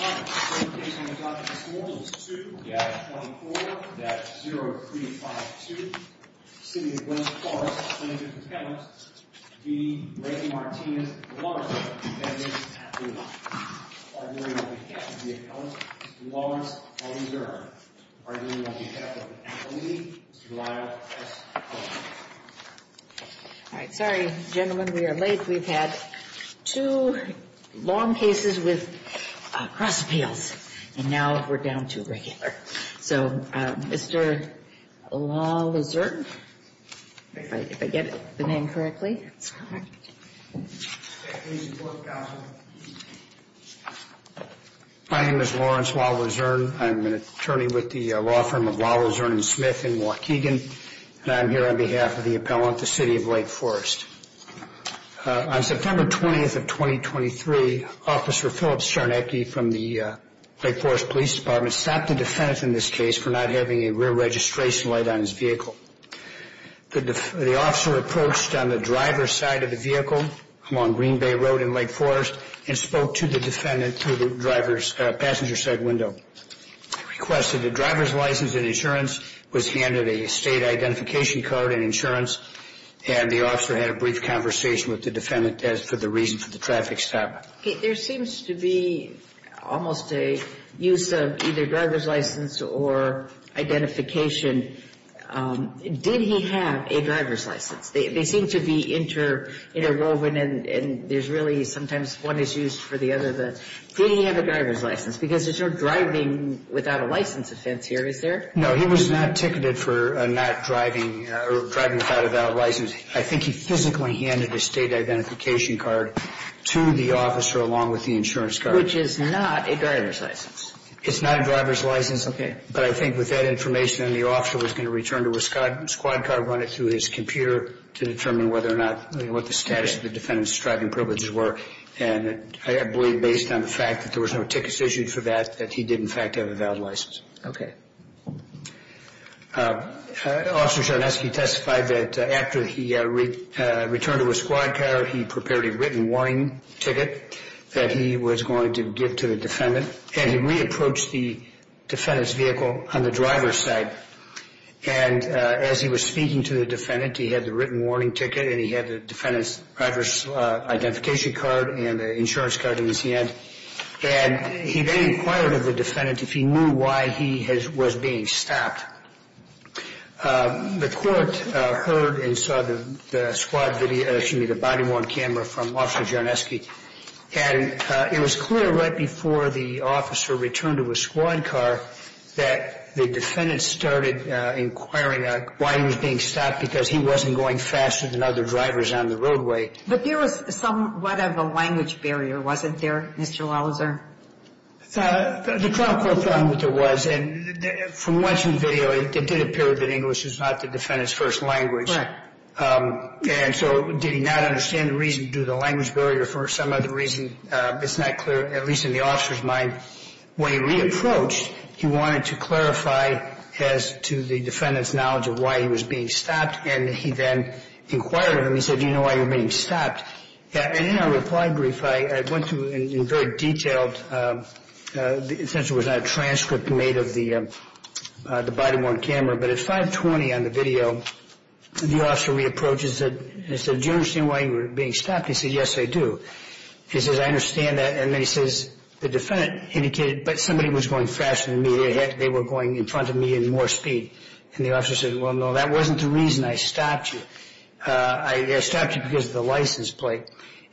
All right, sorry, gentlemen, we are late. We've had two long cases with cross appeals, and now we're down to a regular. So, Mr. Lawlezern, if I get the name correctly. My name is Lawrence Lawlezern. I'm an attorney with the law firm of Lawlezern and Smith in Waukegan, and I'm here on behalf of the appellant, the City of Lake Forest. On September 20th of 2023, Officer Philip Czarnecki from the Lake Forest Police Department stopped the defendant in this case for not having a rear registration light on his vehicle. The officer approached on the driver's side of the vehicle along Green Bay Road in Lake Forest and spoke to the defendant through the passenger side window. I request that the driver's license and insurance was handed, a state identification card and insurance, and the officer had a brief conversation with the defendant as for the reason for the traffic stop. There seems to be almost a use of either driver's license or identification. Did he have a driver's license? They seem to be interwoven, and there's really sometimes one is used for the other. Did he have a driver's license? Because there's no driving without a license offense here, is there? No, he was not ticketed for not driving or driving without a license. I think he physically handed a state identification card to the officer along with the insurance card. Which is not a driver's license. It's not a driver's license. Okay. But I think with that information, the officer was going to return to a squad car, run it through his computer to determine whether or not what the status of the defendant's driving privileges were. And I believe based on the fact that there was no tickets issued for that, that he did in fact have a valid license. Okay. Officer Charneski testified that after he returned to a squad car, he prepared a written warning ticket that he was going to give to the defendant. And he re-approached the defendant's vehicle on the driver's side. And as he was speaking to the defendant, he had the written warning ticket and he had the defendant's driver's identification card and the insurance card in his hand. And he then inquired of the defendant if he knew why he was being stopped. The court heard and saw the squad video, excuse me, the body worn camera from Officer Charneski. And it was clear right before the officer returned to a squad car that the defendant started inquiring why he was being stopped because he wasn't going faster than other drivers on the roadway. But there was somewhat of a language barrier, wasn't there, Mr. Louser? The trial court found that there was. And from watching the video, it did appear that English is not the defendant's first language. Right. And so did he not understand the reason to do the language barrier for some other reason? It's not clear, at least in the officer's mind. When he re-approached, he wanted to clarify as to the defendant's knowledge of why he was being stopped. And he then inquired of him. He said, do you know why you're being stopped? And in our reply brief, I went through in very detailed, since it was not a transcript made of the body worn camera. But at 5.20 on the video, the officer re-approached and said, do you understand why you were being stopped? He said, yes, I do. He says, I understand that. And then he says, the defendant indicated, but somebody was going faster than me. They were going in front of me in more speed. And the officer said, well, no, that wasn't the reason I stopped you. I stopped you because of the license plate.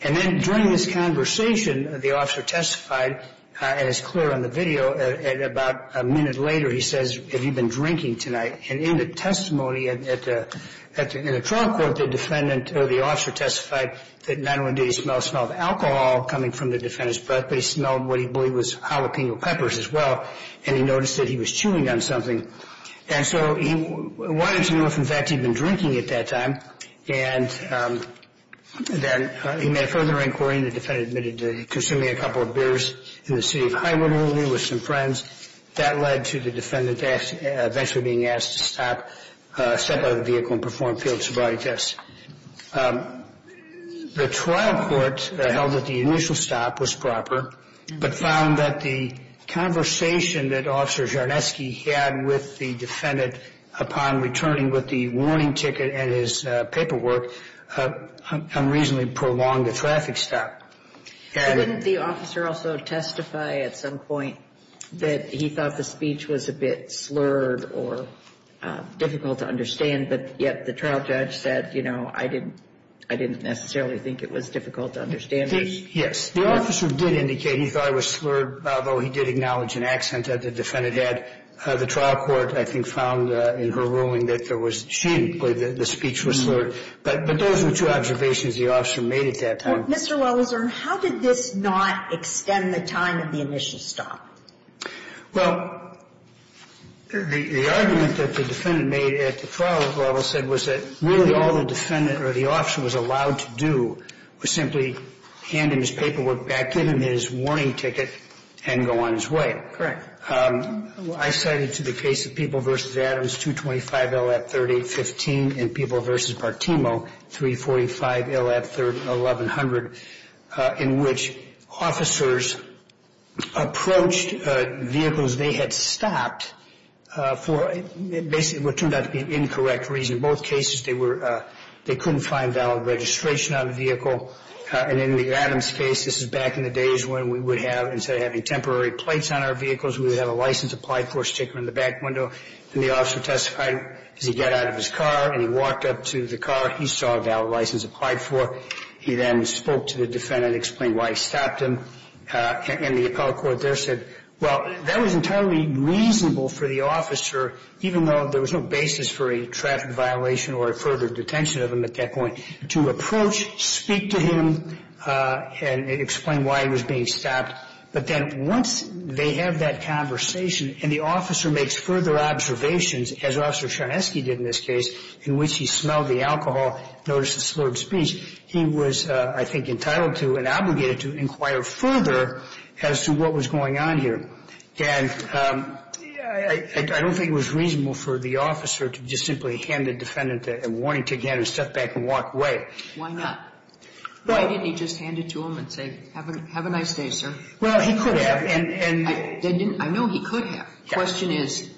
And then during this conversation, the officer testified as clear on the video. And about a minute later, he says, have you been drinking tonight? And in the testimony at the trial court, the defendant or the officer testified that not only did he smell the smell of alcohol coming from the defendant's breath, but he smelled what he believed was jalapeno peppers as well. And he noticed that he was chewing on something. And so he wanted to know if, in fact, he'd been drinking at that time. And then he made a further inquiry. And the defendant admitted to consuming a couple of beers in the city of Highwood only with some friends. That led to the defendant eventually being asked to stop, step out of the vehicle and perform field sobriety tests. The trial court held that the initial stop was proper, but found that the conversation that Officer Jarneski had with the defendant upon returning with the warning ticket and his paperwork unreasonably prolonged the traffic stop. And wouldn't the officer also testify at some point that he thought the speech was a bit slurred or difficult to understand? But yet the trial judge said, you know, I didn't I didn't necessarily think it was difficult to understand. Yes. The officer did indicate he thought it was slurred, although he did acknowledge an accent that the defendant had. The trial court, I think, found in her ruling that there was cheaply the speech was slurred. But those were two observations the officer made at that time. Mr. Welleser, how did this not extend the time of the initial stop? Well, the argument that the defendant made at the trial level said was that really all the defendant or the officer was allowed to do was simply hand him his paperwork back, give him his warning ticket and go on his way. Correct. I cited to the case of People v. Adams 225 L.A. 3815 and People v. Partimo 345 L.A. 1100 in which officers approached vehicles they had stopped for basically what turned out to be an incorrect reason. In both cases, they were they couldn't find valid registration on the vehicle. And in the Adams case, this is back in the days when we would have, instead of having temporary plates on our vehicles, we would have a license applied for, stick them in the back window, and the officer testified as he got out of his car and he walked up to the car, he saw a valid license applied for. He then spoke to the defendant, explained why he stopped him. And the appellate court there said, well, that was entirely reasonable for the officer, even though there was no basis for a traffic violation or a further detention of him at that point, to approach, speak to him, and explain why he was being stopped. But then once they have that conversation and the officer makes further observations, as Officer Chaneski did in this case, in which he smelled the alcohol, noticed the slurred speech, he was, I think, entitled to and obligated to inquire further as to what was going on here. And I don't think it was reasonable for the officer to just simply hand the defendant a warning, take a step back and walk away. Why not? Why didn't he just hand it to him and say, have a nice day, sir? Well, he could have. And I know he could have. The question is,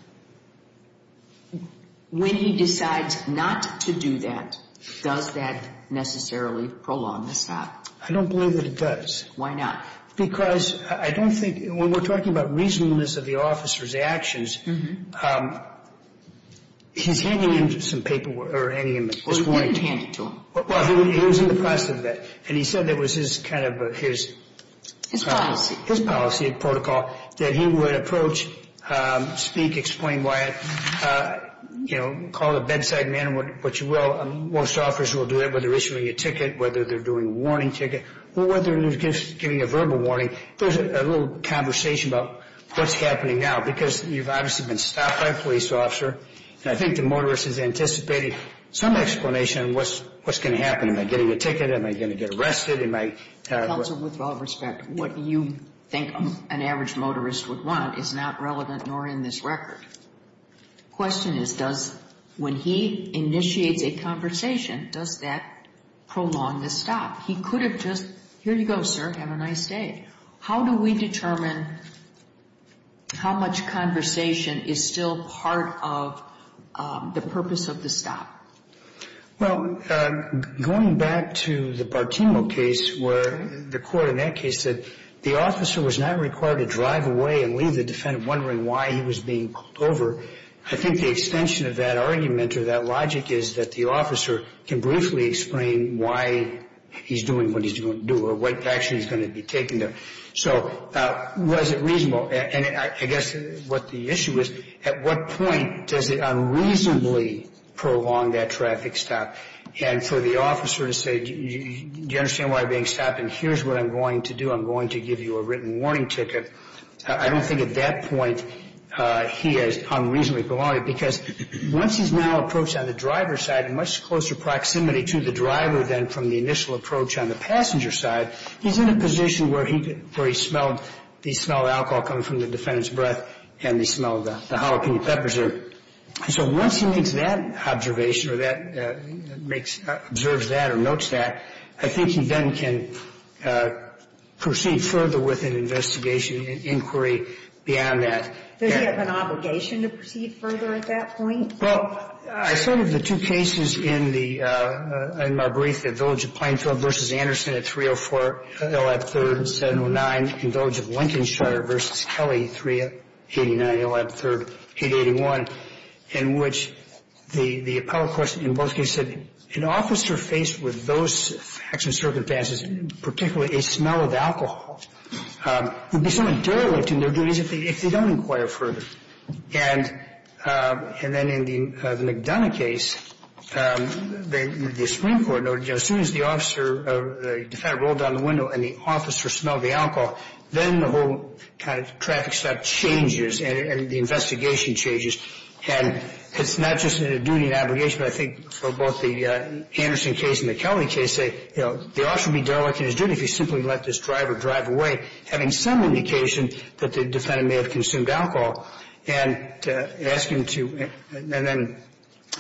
when he decides not to do that, does that necessarily prolong the stop? I don't believe that it does. Why not? Because I don't think we're talking about reasonableness of the officer's actions. He's handing him some paperwork or handing him his warning. Well, he didn't hand it to him. Well, he was in the process of that. And he said that was his kind of his... His policy. His policy, protocol, that he would approach, speak, explain why, you know, call the bedside man, what you will. Most officers will do that, whether issuing a ticket, whether they're doing a warning ticket, or whether they're just giving a verbal warning. There's a little conversation about what's happening now, because you've obviously been stopped by a police officer. And I think the motorist is anticipating some explanation of what's going to happen. Am I getting a ticket? Am I going to get arrested? Am I... It doesn't, with all respect, what you think an average motorist would want is not relevant, nor in this record. The question is, does, when he initiates a conversation, does that prolong the stop? He could have just, here you go, sir, have a nice day. How do we determine how much conversation is still part of the purpose of the stop? Well, going back to the Bartimo case, where the court in that case said the officer was not required to drive away and leave the defendant wondering why he was being pulled over. I think the extension of that argument or that logic is that the officer can briefly explain why he's doing what he's going to do, or what action is going to be taken there. So, was it reasonable? And I guess what the issue is, at what point does it unreasonably prolong that traffic stop? And for the officer to say, do you understand why I'm being stopped? And here's what I'm going to do. I'm going to give you a written warning ticket. I don't think at that point he has unreasonably prolonged it, because once he's now approached on the driver's side, and much closer proximity to the driver than from the initial approach on the passenger's side, he's in a position where he smelled alcohol coming from the defendant's breath, and he smelled the jalapeno peppers there. So once he makes that observation or that makes, observes that or notes that, I think he then can proceed further with an investigation, an inquiry beyond that. Does he have an obligation to proceed further at that point? Well, I started the two cases in the, in my brief, the Village of Plainfield v. Anderson at 304 L.F. 3rd, 709, and Village of Lincolnshire v. Kelly, 389 L.F. 3rd, 881, in which the appellate question in both cases said, an officer faced with those facts and circumstances, particularly a smell of alcohol, would be so intolerant in their duties if they don't inquire further. And then in the McDonough case, the Supreme Court noted, as soon as the officer, the defendant rolled down the window and the officer smelled the alcohol, then the whole kind of traffic step changes and the investigation changes. And it's not just a duty and obligation, but I think for both the Anderson case and the Kelly case, they, you know, the officer would be derelict in his duty if he simply let this driver drive away, having some indication that the defendant may have consumed alcohol, and ask him to, and then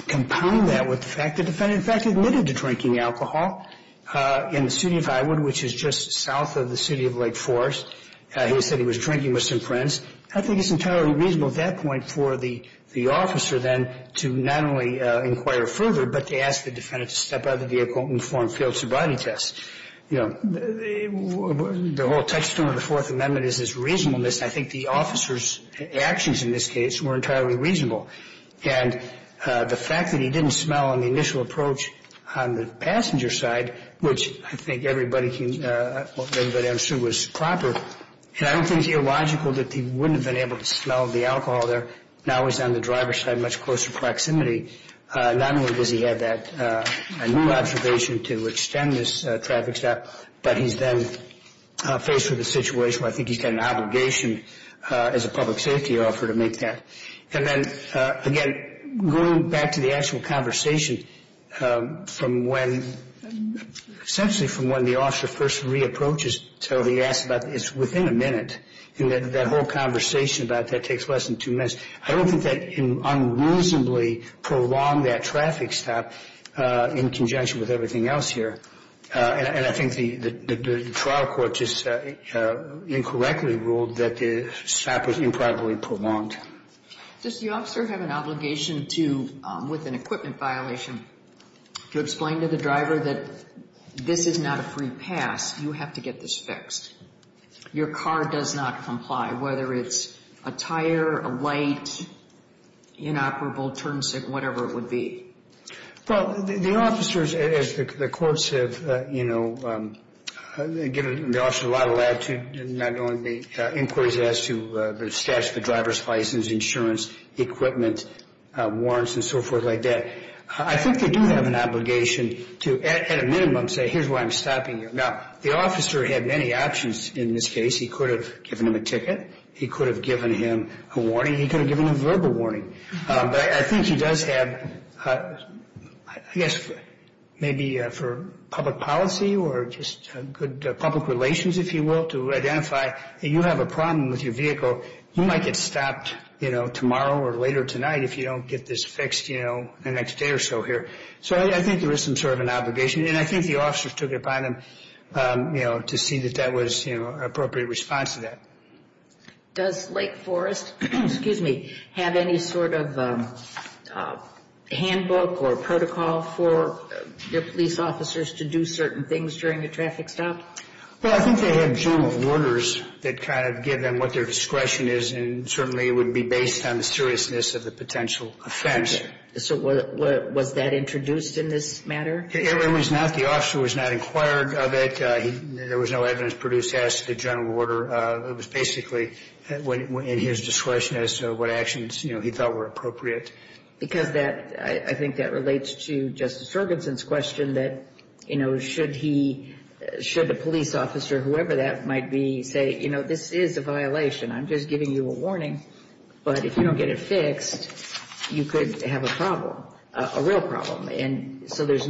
compound that with the fact the defendant, in fact, admitted to drinking alcohol in the city of Iwood, which is just south of the city of Lake Forest. He said he was drinking with some friends. I think it's entirely reasonable at that point for the officer then to not only inquire further, but to ask the defendant to step out of the vehicle and perform field sobriety tests. You know, the whole touchstone of the Fourth Amendment is this reasonableness. I think the officer's actions in this case were entirely reasonable. And the fact that he didn't smell on the initial approach on the passenger side, which I think everybody can, everybody understood was proper, and I don't think it's illogical that he wouldn't have been able to smell the alcohol there, now he's on the driver's side, much closer proximity, not only does he have that new observation to extend this traffic stop, but he's then faced with a situation where I think he's got an obligation as a public safety officer to make that. And then, again, going back to the actual conversation from when, essentially from when the officer first re-approaches, so he asks about, it's within a minute, and that whole conversation about that takes less than two minutes. I don't think that unreasonably prolonged that traffic stop in conjunction with everything else here. And I think the trial court just incorrectly ruled that the stop was improbably prolonged. Does the officer have an obligation to, with an equipment violation, to explain to the driver that this is not a free pass, you have to get this fixed? Your car does not comply, whether it's a tire, a light, inoperable, turn signal, whatever it would be. Well, the officers, as the courts have, you know, given the officer a lot of latitude, not only the inquiries as to the status of the driver's license, insurance, equipment, warrants, and so forth like that. I think they do have an obligation to, at a minimum, say, here's why I'm stopping you. Now, the officer had many options in this case. He could have given him a ticket. He could have given him a warning. He could have given him verbal warning. But I think he does have, I guess, maybe for public policy or just good public relations, if you will, to identify that you have a problem with your vehicle, you might get stopped, you know, tomorrow or later tonight if you don't get this fixed, you know, in the next day or so here. So I think there is some sort of an obligation. And I think the officers took it upon them, you know, to see that that was, you know, an appropriate response to that. Does Lake Forest, excuse me, have any sort of handbook or protocol for your police officers to do certain things during a traffic stop? Well, I think they have general orders that kind of give them what their discretion is. And certainly, it would be based on the seriousness of the potential offense. So was that introduced in this matter? It was not. The officer was not inquired of it. There was no evidence produced as to the general order. It was basically in his discretion as to what actions, you know, he thought were appropriate. Because that, I think that relates to Justice Ferguson's question that, you know, should he, should the police officer, whoever that might be, say, you know, this is a violation. I'm just giving you a warning. But if you don't get it fixed, you could have a problem, a real problem. And so there's,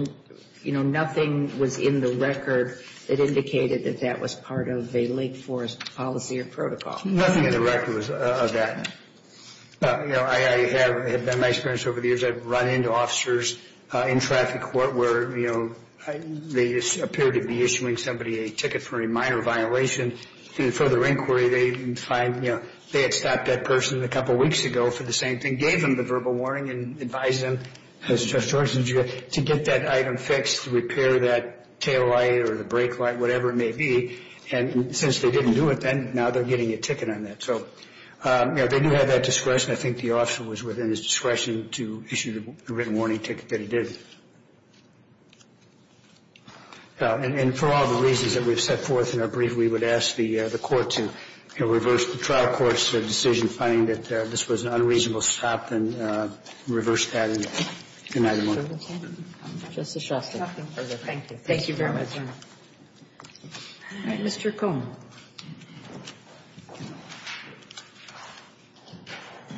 you know, nothing was in the record that indicated that that was part of a Lake Forest policy or protocol. Nothing in the record was of that. You know, I have, in my experience over the years, I've run into officers in traffic court where, you know, they appear to be issuing somebody a ticket for a minor violation. And in further inquiry, they find, you know, they had stopped that person a couple of weeks ago for the same thing, gave them the verbal warning, and advised them, as Justice Ferguson did, to get that item fixed, to repair that tail light or the brake light, whatever it may be. And since they didn't do it then, now they're getting a ticket on that. So, you know, they do have that discretion. I think the officer was within his discretion to issue the written warning ticket that he did. And for all the reasons that we've set forth in our brief, we would ask the Court to, you know, reverse the trial court's decision, finding that this was an unreasonable stop, then reverse that and deny the warning. Justice Shostak. Nothing further. Thank you. Thank you very much, Your Honor. All right. Mr. Cohn.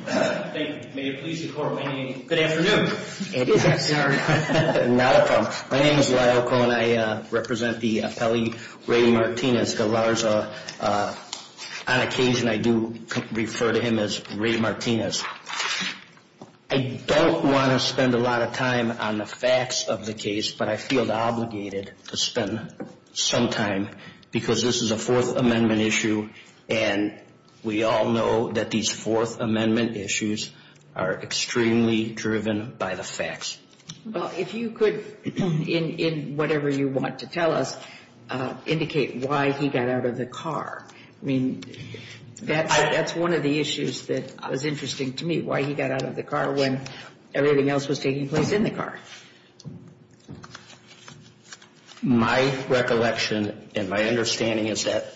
Thank you. May it please the Court, may it be a good afternoon. It is. My name is Lyle Cohn. I represent the appellee, Ray Martinez. On occasion, I do refer to him as Ray Martinez. I don't want to spend a lot of time on the facts of the case, but I feel obligated to spend some time, because this is a Fourth Amendment issue. And we all know that these Fourth Amendment issues are extremely driven by the facts. Well, if you could, in whatever you want to tell us, indicate why he got out of the car. I mean, that's one of the issues that was interesting to me, why he got out of the car when everything else was taking place in the car. My recollection and my understanding is that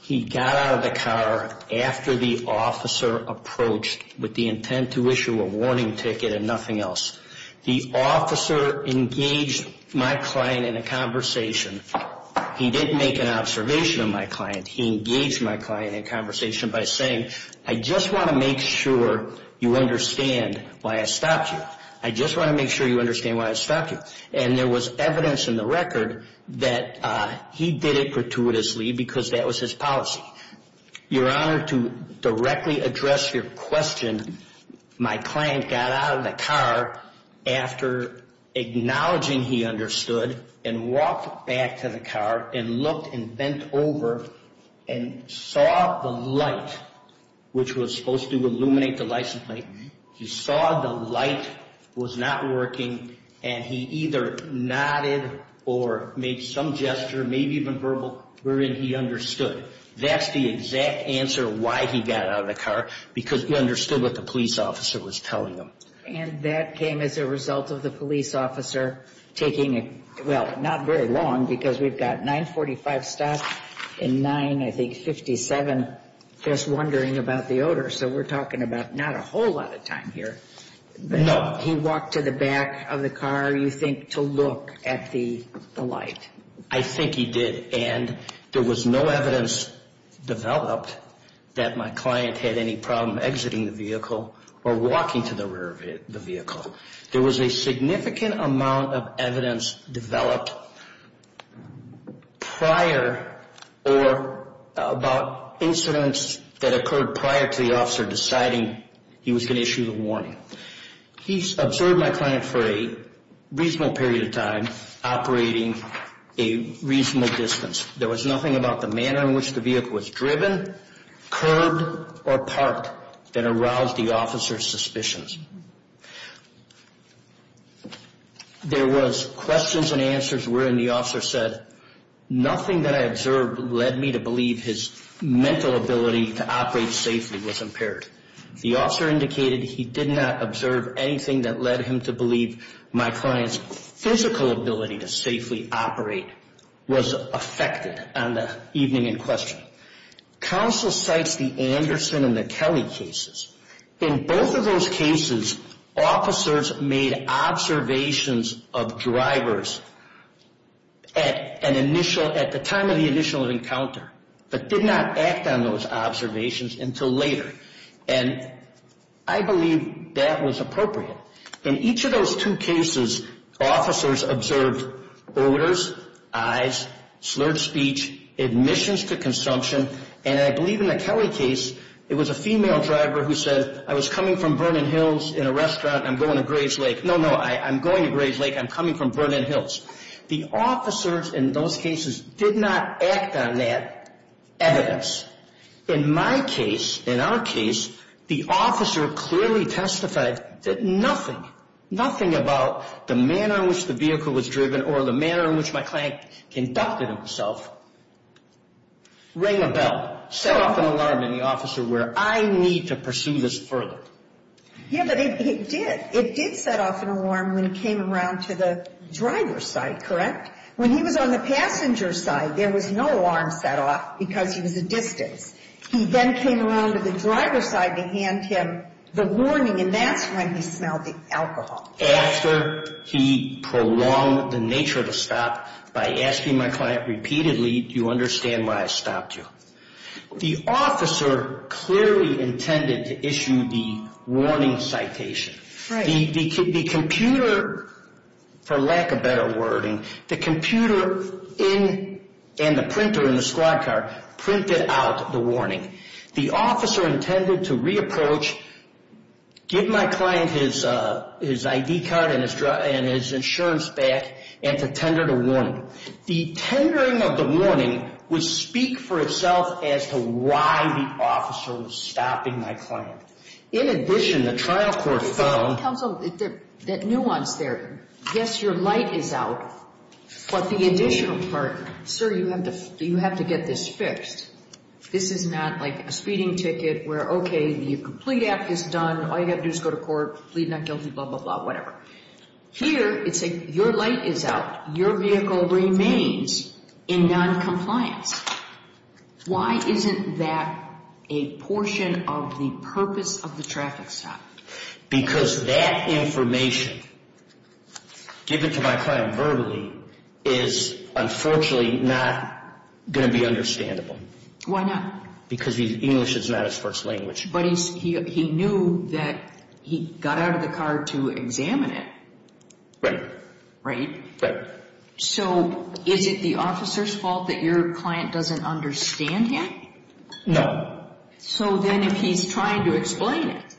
he got out of the car after the officer approached with the intent to issue a warning ticket and nothing else. The officer engaged my client in a conversation. He didn't make an observation of my client. He engaged my client in conversation by saying, I just want to make sure you understand why I stopped you. I just want to make sure you understand why I stopped you. And there was evidence in the record that he did it gratuitously, because that was his policy. Your Honor, to directly address your question, my client got out of the car after acknowledging he understood, and walked back to the car and looked and bent over and saw the light, which was supposed to illuminate the license plate. He saw the light was not working, and he either nodded or made some gesture, maybe even verbal, wherein he understood. That's the exact answer why he got out of the car, because he understood what the police officer was telling him. And that came as a result of the police officer taking, well, not very long, because we've got 945 stops and 9, I think, 57 just wondering about the odor. So we're talking about not a whole lot of time here. No. He walked to the back of the car, you think, to look at the light. I think he did. And there was no evidence developed that my client had any problem exiting the vehicle or walking to the rear of the vehicle. There was a significant amount of evidence developed prior or about incidents that occurred prior to the officer deciding he was going to issue the warning. He observed my client for a reasonable period of time, operating a reasonable distance. There was nothing about the manner in which the vehicle was driven, curbed, or parked that aroused the officer's suspicions. There was questions and answers wherein the officer said, nothing that I observed led me to believe his mental ability to operate safely was impaired. The officer indicated he did not observe anything that led him to believe my client's physical ability to safely operate was affected on the evening in question. Counsel cites the Anderson and the Kelly cases. In both of those cases, officers made observations of drivers at the time of the initial encounter, but did not act on those observations until later. And I believe that was appropriate. In each of those two cases, officers observed odors, eyes, slurred speech, admissions to consumption. And I believe in the Kelly case, it was a female driver who said, I was coming from Vernon Hills in a restaurant and I'm going to Graves Lake. No, no, I'm going to Graves Lake. I'm coming from Vernon Hills. The officers in those cases did not act on that evidence. In my case, in our case, the officer clearly testified that nothing, nothing about the manner in which the vehicle was driven or the manner in which my client conducted himself rang a bell, set off an alarm in the officer where I need to pursue this further. Yeah, but it did. It did set off an alarm when it came around to the driver's side, correct? When he was on the passenger side, there was no alarm set off because he was a distance. He then came around to the driver's side to hand him the warning, and that's when he smelled the alcohol. After he prolonged the nature of the stop by asking my client repeatedly, do you understand why I stopped you? The officer clearly intended to issue the warning citation. The computer, for lack of better wording, the computer and the printer in the squad car printed out the warning. The officer intended to re-approach, give my client his ID card and his insurance back, and to tender the warning. The tendering of the warning would speak for itself as to why the officer was stopping my client. In addition, the trial court found- Counsel, that nuance there. Yes, your light is out, but the additional part. Sir, you have to get this fixed. This is not like a speeding ticket where, okay, the complete act is done, all you have to do is go to court, plead not guilty, blah, blah, blah, whatever. Here, it's like your light is out, your vehicle remains in non-compliance. Why isn't that a portion of the purpose of the traffic stop? Because that information, given to my client verbally, is unfortunately not going to be understandable. Why not? Because English is not his first language. But he knew that he got out of the car to examine it. Right. Right? Right. So, is it the officer's fault that your client doesn't understand yet? No. So then, if he's trying to explain it,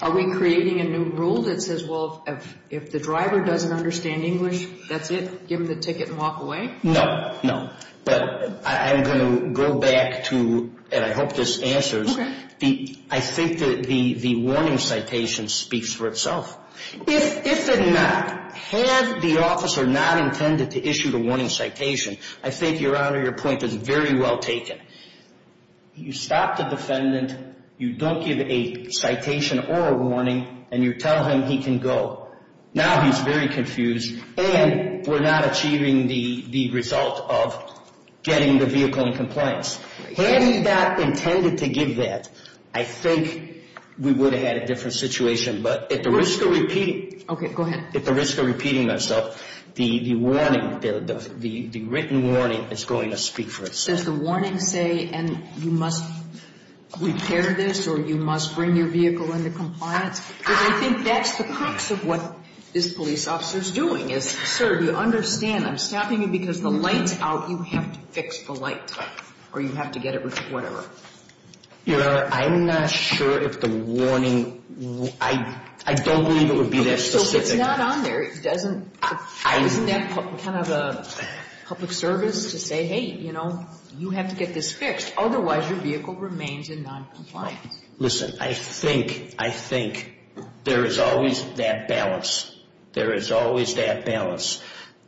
are we creating a new rule that says, well, if the driver doesn't understand English, that's it, give him the ticket and walk away? No, no. But I'm going to go back to, and I hope this answers, I think that the warning citation speaks for itself. If it did not, had the officer not intended to issue the warning citation, I think, your honor, your point is very well taken. You stop the defendant, you don't give a citation or a warning, and you tell him he can go. Now he's very confused, and we're not achieving the result of getting the vehicle in compliance. Had he not intended to give that, I think we would have had a different situation. But at the risk of repeating myself, the warning, the written warning is going to speak for itself. But does the warning say, and you must repair this, or you must bring your vehicle into compliance? Because I think that's the crux of what this police officer's doing, is, sir, do you understand, I'm stopping you because the light's out, you have to fix the light, or you have to get it, whatever. Your honor, I'm not sure if the warning, I don't believe it would be that specific. It's not on there, it doesn't, isn't that kind of a public service to say, hey, you know, you have to get this fixed, otherwise your vehicle remains in noncompliance. Listen, I think, I think there is always that balance. There is always that balance.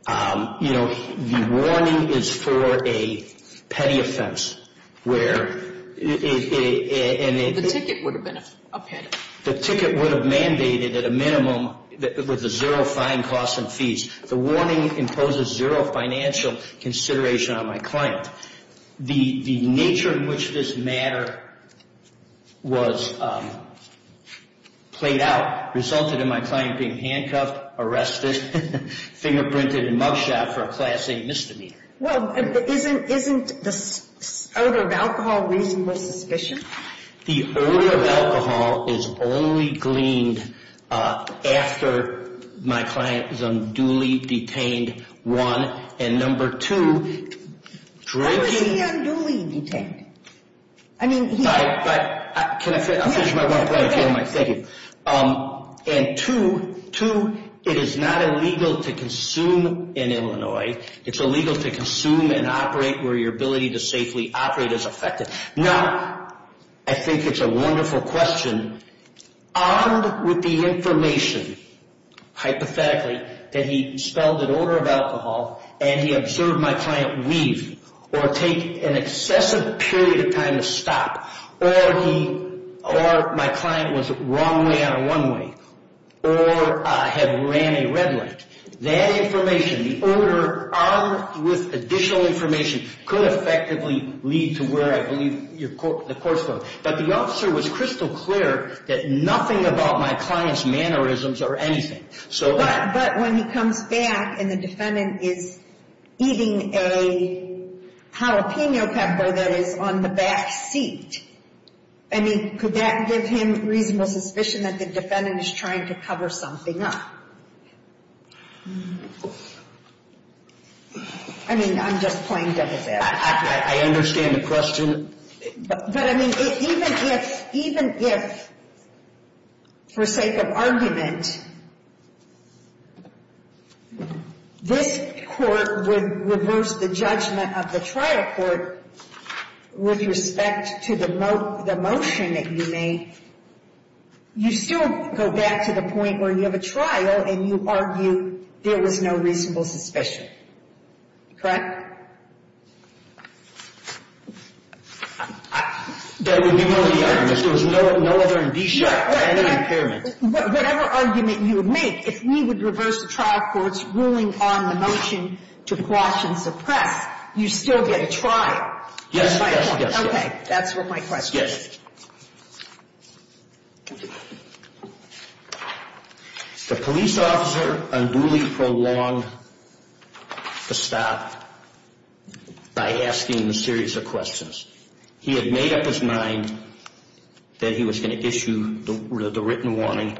You know, the warning is for a petty offense, where it, and it. The ticket would have been a petty. The ticket would have mandated, at a minimum, with a zero fine, costs, and fees. The warning imposes zero financial consideration on my client. The nature in which this matter was played out resulted in my client being handcuffed, arrested, fingerprinted, and mug shot for a class A misdemeanor. Well, isn't the odor of alcohol reasonable suspicion? The odor of alcohol is only gleaned after my client is unduly detained, one. And number two, drinking- Why was he unduly detained? I mean, he- I, I, can I finish, I'll finish my one point if you don't mind, thank you. And two, two, it is not illegal to consume in Illinois. It's illegal to consume and operate where your ability to safely operate is affected. Now, I think it's a wonderful question. Armed with the information, hypothetically, that he spelled an odor of alcohol, and he observed my client weave, or take an excessive period of time to stop, or he, or my client was wrong way on a runway, or had ran a red light. That information, the odor armed with additional information, could effectively lead to where I believe your court, the court's going. But the officer was crystal clear that nothing about my client's mannerisms or anything. So- But, but when he comes back and the defendant is eating a jalapeno pepper that is on the back seat, I mean, could that give him reasonable suspicion that the defendant is trying to cover something up? I mean, I'm just playing dead with that. I understand the question. But I mean, even if, even if, for sake of argument, this court would reverse the judgment of the trial court with respect to the motion that you made. You still go back to the point where you have a trial and you argue there was no reasonable suspicion, correct? That would be one of the arguments. There was no other indication of any impairment. Whatever argument you would make, if we would reverse the trial court's ruling on the motion to quash and suppress, you still get a trial. Yes, yes, yes. Okay, that's what my question is. Yes. The police officer unduly prolonged the stop by asking a series of questions. He had made up his mind that he was going to issue the written warning.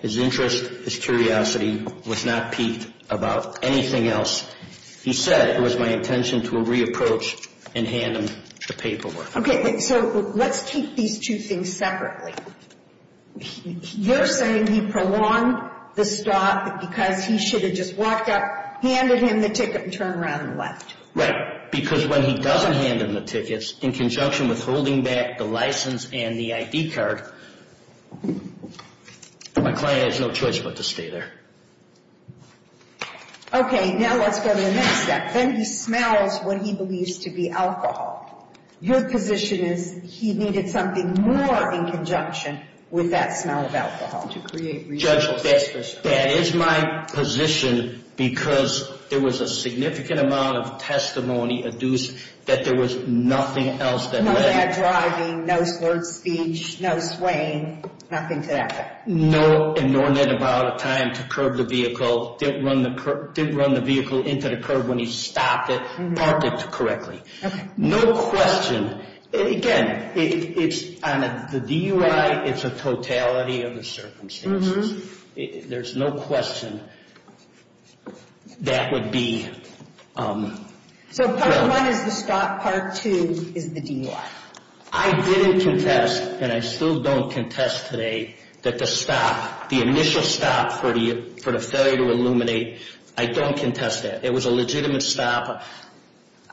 His interest, his curiosity was not piqued about anything else. He said it was my intention to re-approach and hand him the paperwork. Okay, so let's take these two things separately. You're saying he prolonged the stop because he should have just walked up, handed him the ticket, and turned around and left. Right, because when he doesn't hand him the tickets, in conjunction with holding back the license and the ID card, my client has no choice but to stay there. Okay, now let's go to the next step. Then he smells what he believes to be alcohol. Your position is he needed something more in conjunction with that smell of alcohol to create- Judge, that is my position because there was a significant amount of testimony adduced that there was nothing else that led- No bad driving, no slurred speech, no swaying, nothing to that effect. No, and nor did he buy out of time to curb the vehicle, didn't run the vehicle into the curb when he stopped it, parked it correctly. Okay. No question, again, it's on the DUI, it's a totality of the circumstances. There's no question that would be- So part one is the stop, part two is the DUI. I didn't contest, and I still don't contest today, that the stop, the initial stop for the failure to illuminate, I don't contest that. It was a legitimate stop,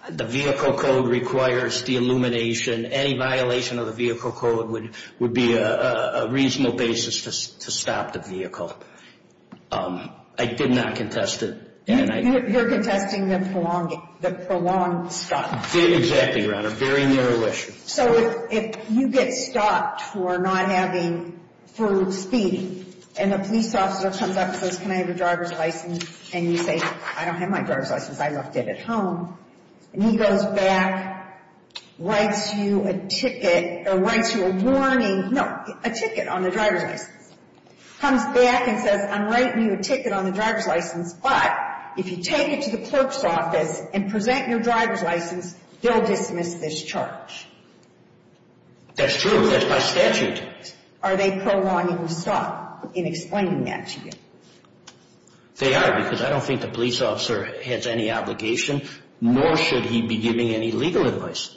the vehicle code requires the illumination. Any violation of the vehicle code would be a reasonable basis to stop the vehicle. I did not contest it, and I- You're contesting the prolonged stop. Exactly, Your Honor, very narrow issue. So if you get stopped for not having full speed, and a police officer comes up and says, can I have your driver's license? And you say, I don't have my driver's license, I left it at home. And he goes back, writes you a ticket, or writes you a warning. No, a ticket on the driver's license. Comes back and says, I'm writing you a ticket on the driver's license, but if you take it to the clerk's office and present your driver's license, they'll dismiss this charge. That's true, that's by statute. Are they prolonging the stop in explaining that to you? They are, because I don't think the police officer has any obligation, nor should he be giving any legal advice.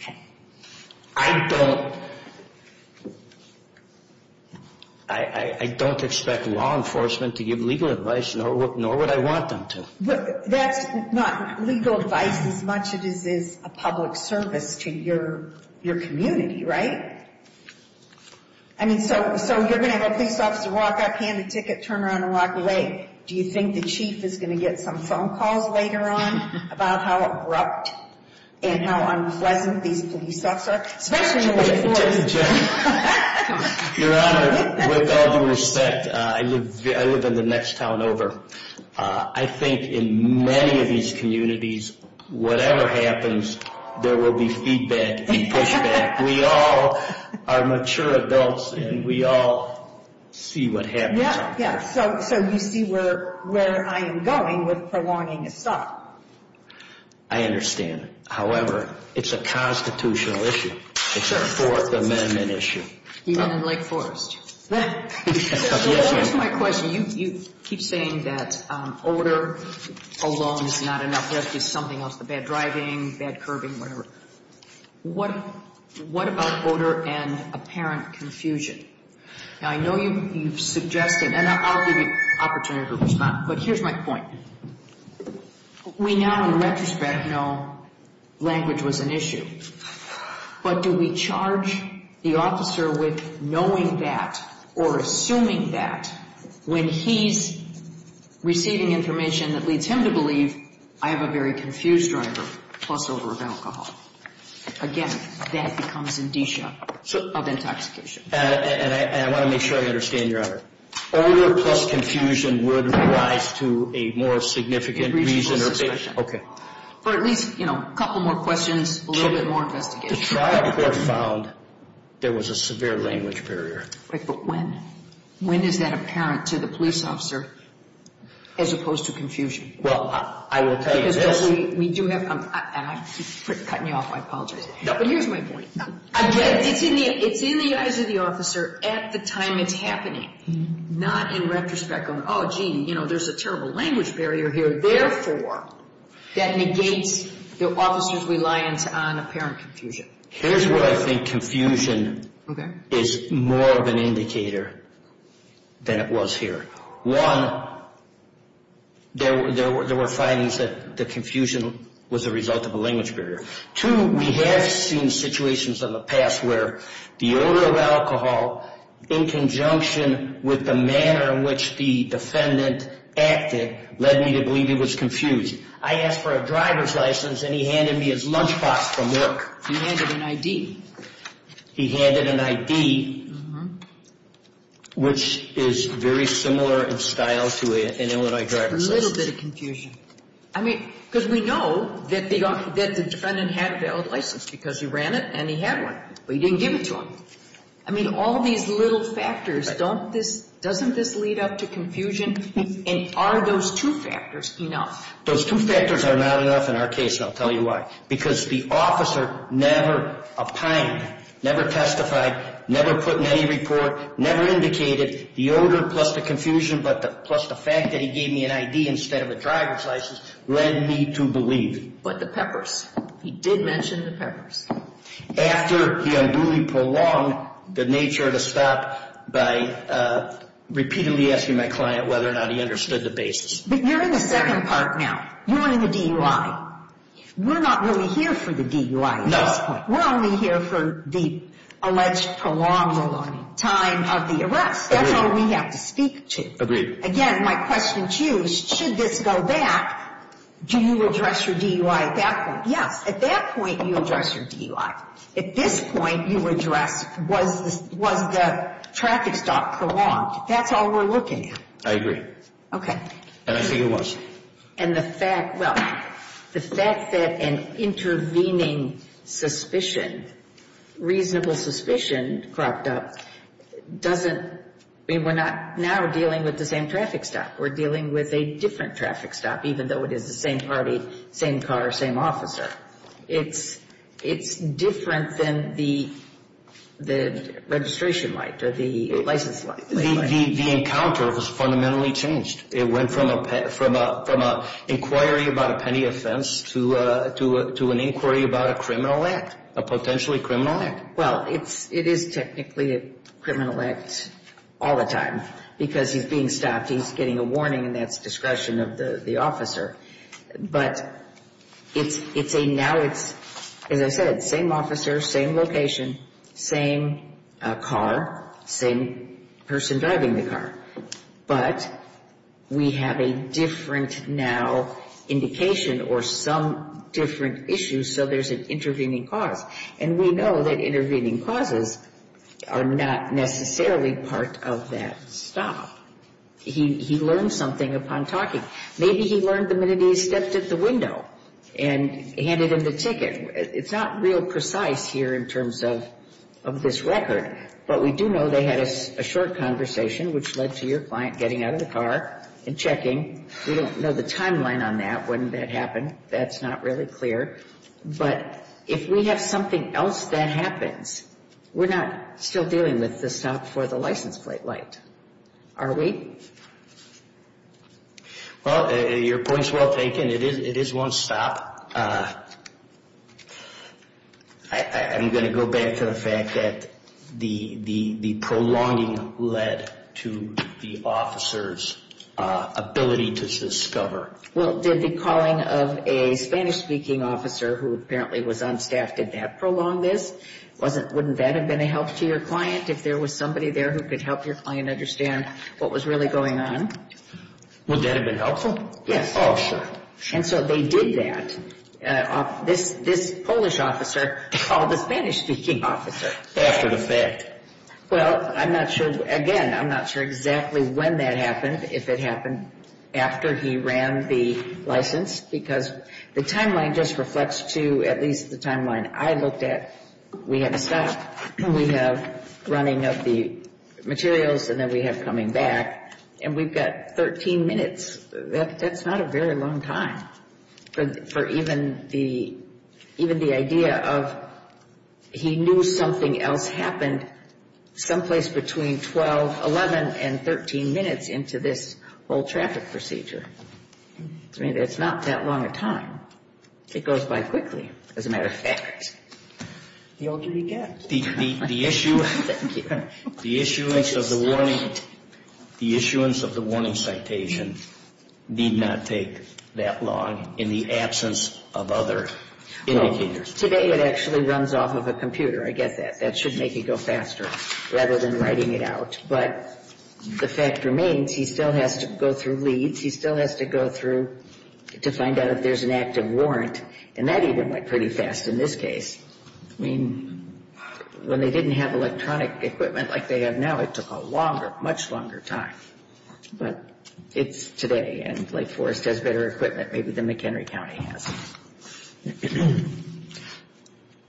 Okay. I don't expect law enforcement to give legal advice, nor would I want them to. That's not legal advice as much as it is a public service to your community, right? I mean, so you're going to have a police officer walk up, hand a ticket, turn around and walk away. Do you think the chief is going to get some phone calls later on about how abrupt and how unpleasant these police officers, especially in the late 40s? Your Honor, with all due respect, I live in the next town over. I think in many of these communities, whatever happens, there will be feedback and pushback. We all are mature adults, and we all see what happens. Yeah, yeah, so you see where I am going with prolonging a stop. I understand. However, it's a constitutional issue. It's a Fourth Amendment issue. Even in Lake Forest. So to answer my question, you keep saying that odor alone is not enough. There has to be something else. The bad driving, bad curbing, whatever. What about odor and apparent confusion? Now, I know you've suggested, and I'll give you an opportunity to respond, but here's my point. We now, in retrospect, know language was an issue. But do we charge the officer with knowing that or assuming that when he's receiving information that leads him to believe, I have a very confused driver, plus odor of alcohol? Again, that becomes indicia of intoxication. And I want to make sure I understand, Your Honor. Odor plus confusion would rise to a more significant reason or- A reasonable suspicion. Okay. For at least, you know, a couple more questions, a little bit more investigation. The trial court found there was a severe language barrier. Wait, but when? When is that apparent to the police officer as opposed to confusion? Well, I will tell you this- Because we do have, and you're cutting me off, I apologize. No, but here's my point. Again, it's in the eyes of the officer at the time it's happening. Not in retrospect going, oh, gee, you know, there's a terrible language barrier here. Therefore, that negates the officer's reliance on apparent confusion. Here's where I think confusion is more of an indicator than it was here. One, there were findings that the confusion was a result of a language barrier. Two, we have seen situations in the past where the odor of alcohol in conjunction with the manner in which the defendant acted led me to believe he was confused. I asked for a driver's license, and he handed me his lunchbox from work. He handed an ID. He handed an ID, which is very similar in style to an Illinois driver's license. A little bit of confusion. I mean, because we know that the defendant had a valid license because he ran it and he had one. But he didn't give it to him. I mean, all these little factors, don't this, doesn't this lead up to confusion? And are those two factors enough? Those two factors are not enough in our case, and I'll tell you why. Because the officer never opined, never testified, never put in any report, never indicated. The odor plus the confusion plus the fact that he gave me an ID instead of a driver's license led me to believe. But the peppers, he did mention the peppers. After he unduly prolonged the nature of the stop by repeatedly asking my client whether or not he understood the basis. But you're in the second part now. You're in the DUI. We're not really here for the DUI at this point. We're only here for the alleged prolonged time of the arrest. That's all we have to speak to. Agreed. Again, my question to you is, should this go back, do you address your DUI at that point? Yes, at that point, you address your DUI. At this point, you address, was the traffic stop prolonged? That's all we're looking at. I agree. And I think it was. And the fact, well, the fact that an intervening suspicion, reasonable suspicion cropped up doesn't, I mean, we're not now dealing with the same traffic stop. We're dealing with a different traffic stop, even though it is the same party, same car, same officer. It's different than the registration light or the license light. The encounter was fundamentally changed. It went from an inquiry about a penny offense to an inquiry about a criminal act, a potentially criminal act. Well, it is technically a criminal act all the time because he's being stopped. He's getting a warning, and that's discretion of the officer. But it's a, now it's, as I said, same officer, same location, same car, same person driving the car. But we have a different now indication or some different issue, so there's an intervening cause. And we know that intervening causes are not necessarily part of that stop. He learned something upon talking. Maybe he learned the minute he stepped at the window and handed him the ticket. It's not real precise here in terms of this record, but we do know they had a short conversation, which led to your client getting out of the car and checking. We don't know the timeline on that, when that happened. That's not really clear. But if we have something else that happens, we're not still dealing with the stop for the license plate light, are we? Well, your point's well taken. It is one stop. I'm going to go back to the fact that the prolonging led to the officer's ability to discover. Well, did the calling of a Spanish-speaking officer who apparently was on staff, did that prolong this? Wouldn't that have been a help to your client if there was somebody there who could help your client understand what was really going on? Would that have been helpful? Yes. Oh, sure. And so they did that. This Polish officer called the Spanish-speaking officer. After the fact. Well, I'm not sure. Again, I'm not sure exactly when that happened, if it happened after he ran the license, because the timeline just reflects to at least the timeline I looked at. We have a stop, we have running of the materials, and then we have coming back. And we've got 13 minutes. That's not a very long time for even the idea of he knew something else happened someplace between 12, 11, and 13 minutes into this whole traffic procedure. I mean, it's not that long a time. It goes by quickly, as a matter of fact. The older you get. The issue of the warning, the issuance of the warning citation did not take that long in the absence of other indicators. Well, today it actually runs off of a computer. I get that. That should make it go faster, rather than writing it out. But the fact remains, he still has to go through leads, he still has to go through to find out if there's an active warrant, and that even went pretty fast in this case. I mean, when they didn't have electronic equipment like they have now, it took a longer, much longer time. But it's today, and Lake Forest has better equipment maybe than McHenry County has.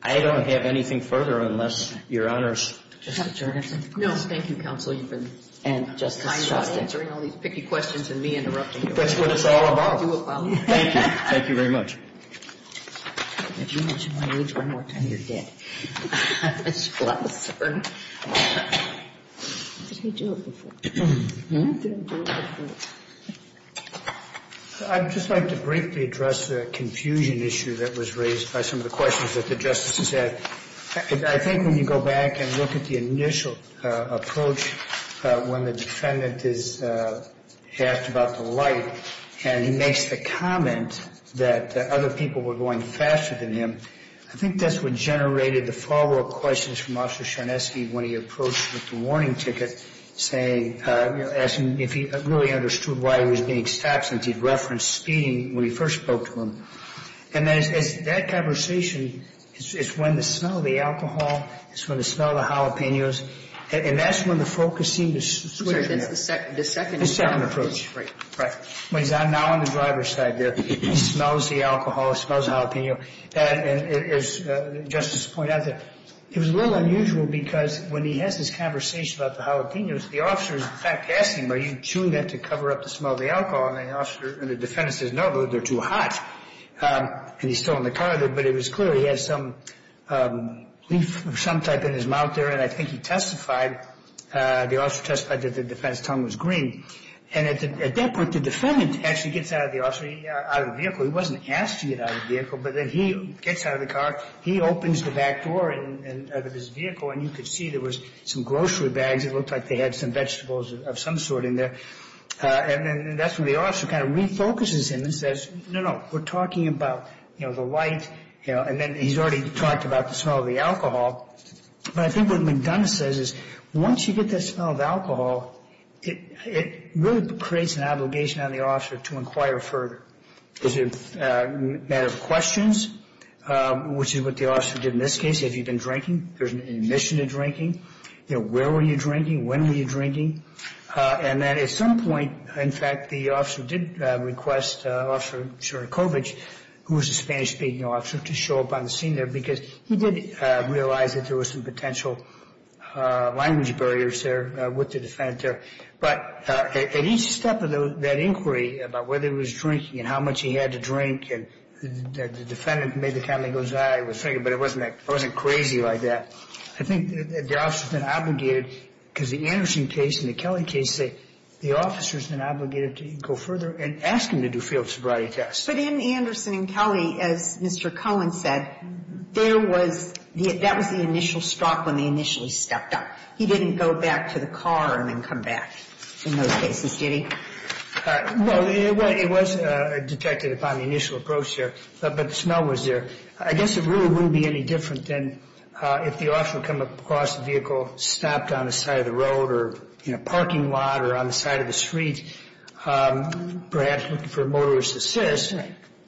I don't have anything further unless Your Honors. Justice Jorgensen. No, thank you, Counsel. You've been kind enough answering all these picky questions and me interrupting you. But that's what it's all about. Thank you. Thank you very much. If you mention my age one more time, you're dead. Ms. Glasser. Did I do it before? Did I do it before? I'd just like to briefly address the confusion issue that was raised by some of the questions that the Justices asked. I think when you go back and look at the initial approach when the defendant is asked about the light, and he makes the comment that other people were going faster than him, I think that's what generated the follow-up questions from Officer Sharneski when he approached with the warning ticket, asking if he really understood why he was being stopped since he referenced speeding when he first spoke to him. And that conversation is when the smell of the alcohol, it's when the smell of the jalapenos, and that's when the focus seemed to switch. That's the second approach. The second approach. Right. Right. When he's now on the driver's side there, he smells the alcohol, he smells the jalapeno. And as Justice pointed out there, it was a little unusual because when he has this conversation about the jalapenos, the officer is, in fact, asking him, are you chewing that to cover up the smell of the alcohol? And the officer, and the defendant says, no, they're too hot. And he's still in the car, but it was clear he had some leaf of some type in his mouth there, and I think he testified, the officer testified that the defendant's tongue was green. And at that point, the defendant actually gets out of the vehicle. He wasn't asked to get out of the vehicle, but then he gets out of the car. He opens the back door of his vehicle, and you could see there was some grocery bags. It looked like they had some vegetables of some sort in there. And that's when the officer kind of refocuses him and says, no, no, we're talking about the light, and then he's already talked about the smell of the alcohol. But I think what McDonough says is once you get that smell of alcohol, it really creates an obligation on the officer to inquire further. Is it a matter of questions, which is what the officer did in this case. Have you been drinking? There's an admission to drinking. Where were you drinking? When were you drinking? And then at some point, in fact, the officer did request Officer Czernikowicz, who was a Spanish-speaking officer, to show up on the scene there because he did realize that there was some potential language barriers there with the defendant there. But at each step of that inquiry about whether he was drinking and how much he had to drink, the defendant made the comment, he goes, I was drinking, but I wasn't crazy like that. I think the officer's been obligated, because the Anderson case and the Kelly case say the officer's been obligated to go further and ask him to do field sobriety tests. But in Anderson and Kelly, as Mr. Cohen said, there was the – that was the initial stop when they initially stepped up. He didn't go back to the car and then come back in those cases, did he? Well, it was detected upon the initial approach there, but the smell was there. I guess it really wouldn't be any different than if the officer would come across the vehicle, stopped on the side of the road or in a parking lot or on the side of the street, perhaps looking for a motorist assist,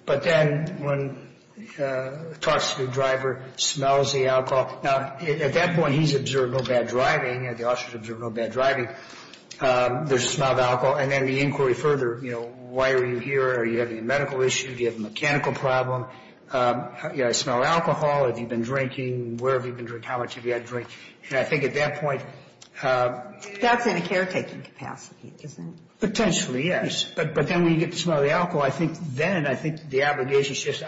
but then when he talks to the driver, smells the alcohol. Now, at that point, he's observed no bad driving and the officer's observed no bad driving. There's a smell of alcohol. And then the inquiry further, you know, why are you here? Are you having a medical issue? Do you have a mechanical problem? You know, I smell alcohol. Have you been drinking? Where have you been drinking? How much have you had to drink? And I think at that point – That's in a caretaking capacity, isn't it? Potentially, yes. But then when you get the smell of the alcohol, I think then I think the obligation shifts.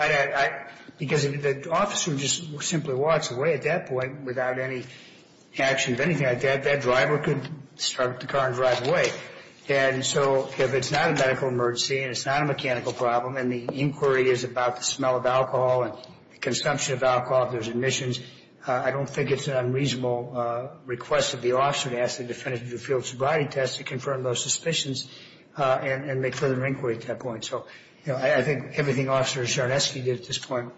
Because if the officer just simply walks away at that point without any action of anything like that, that driver could start up the car and drive away. And so if it's not a medical emergency and it's not a mechanical problem and the inquiry is about the smell of alcohol and consumption of alcohol, if there's admissions, I don't think it's an unreasonable request of the officer to ask the defendant to do a field sobriety test to confirm those suspicions and make further inquiry at that point. So, you know, I think everything Officer Czarneski did at this point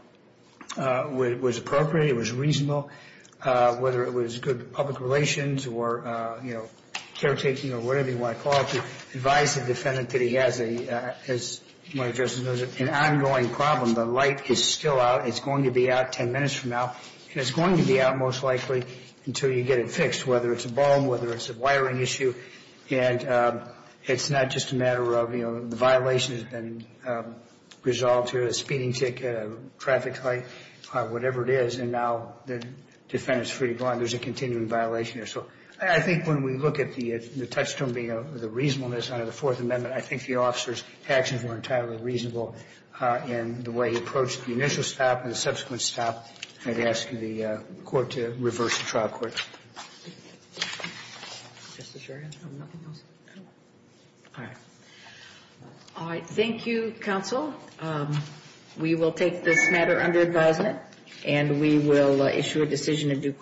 was appropriate, it was reasonable, whether it was good public relations or, you know, caretaking or whatever you want to call it, to advise the defendant that he has an ongoing problem. The light is still out. It's going to be out 10 minutes from now, and it's going to be out most likely until you get it fixed, whether it's a bomb, whether it's a wiring issue. And it's not just a matter of, you know, the violation has been resolved here, a speeding ticket, a traffic light, whatever it is. And now the defendant is free to go on. There's a continuing violation here. So I think when we look at the touchstone being the reasonableness under the Fourth Amendment, I think the officer's actions were entirely reasonable in the way he approached the initial stop and the subsequent stop and asking the court to reverse the trial court. All right. Thank you, counsel. We will take this matter under advisement, and we will issue a decision in due course.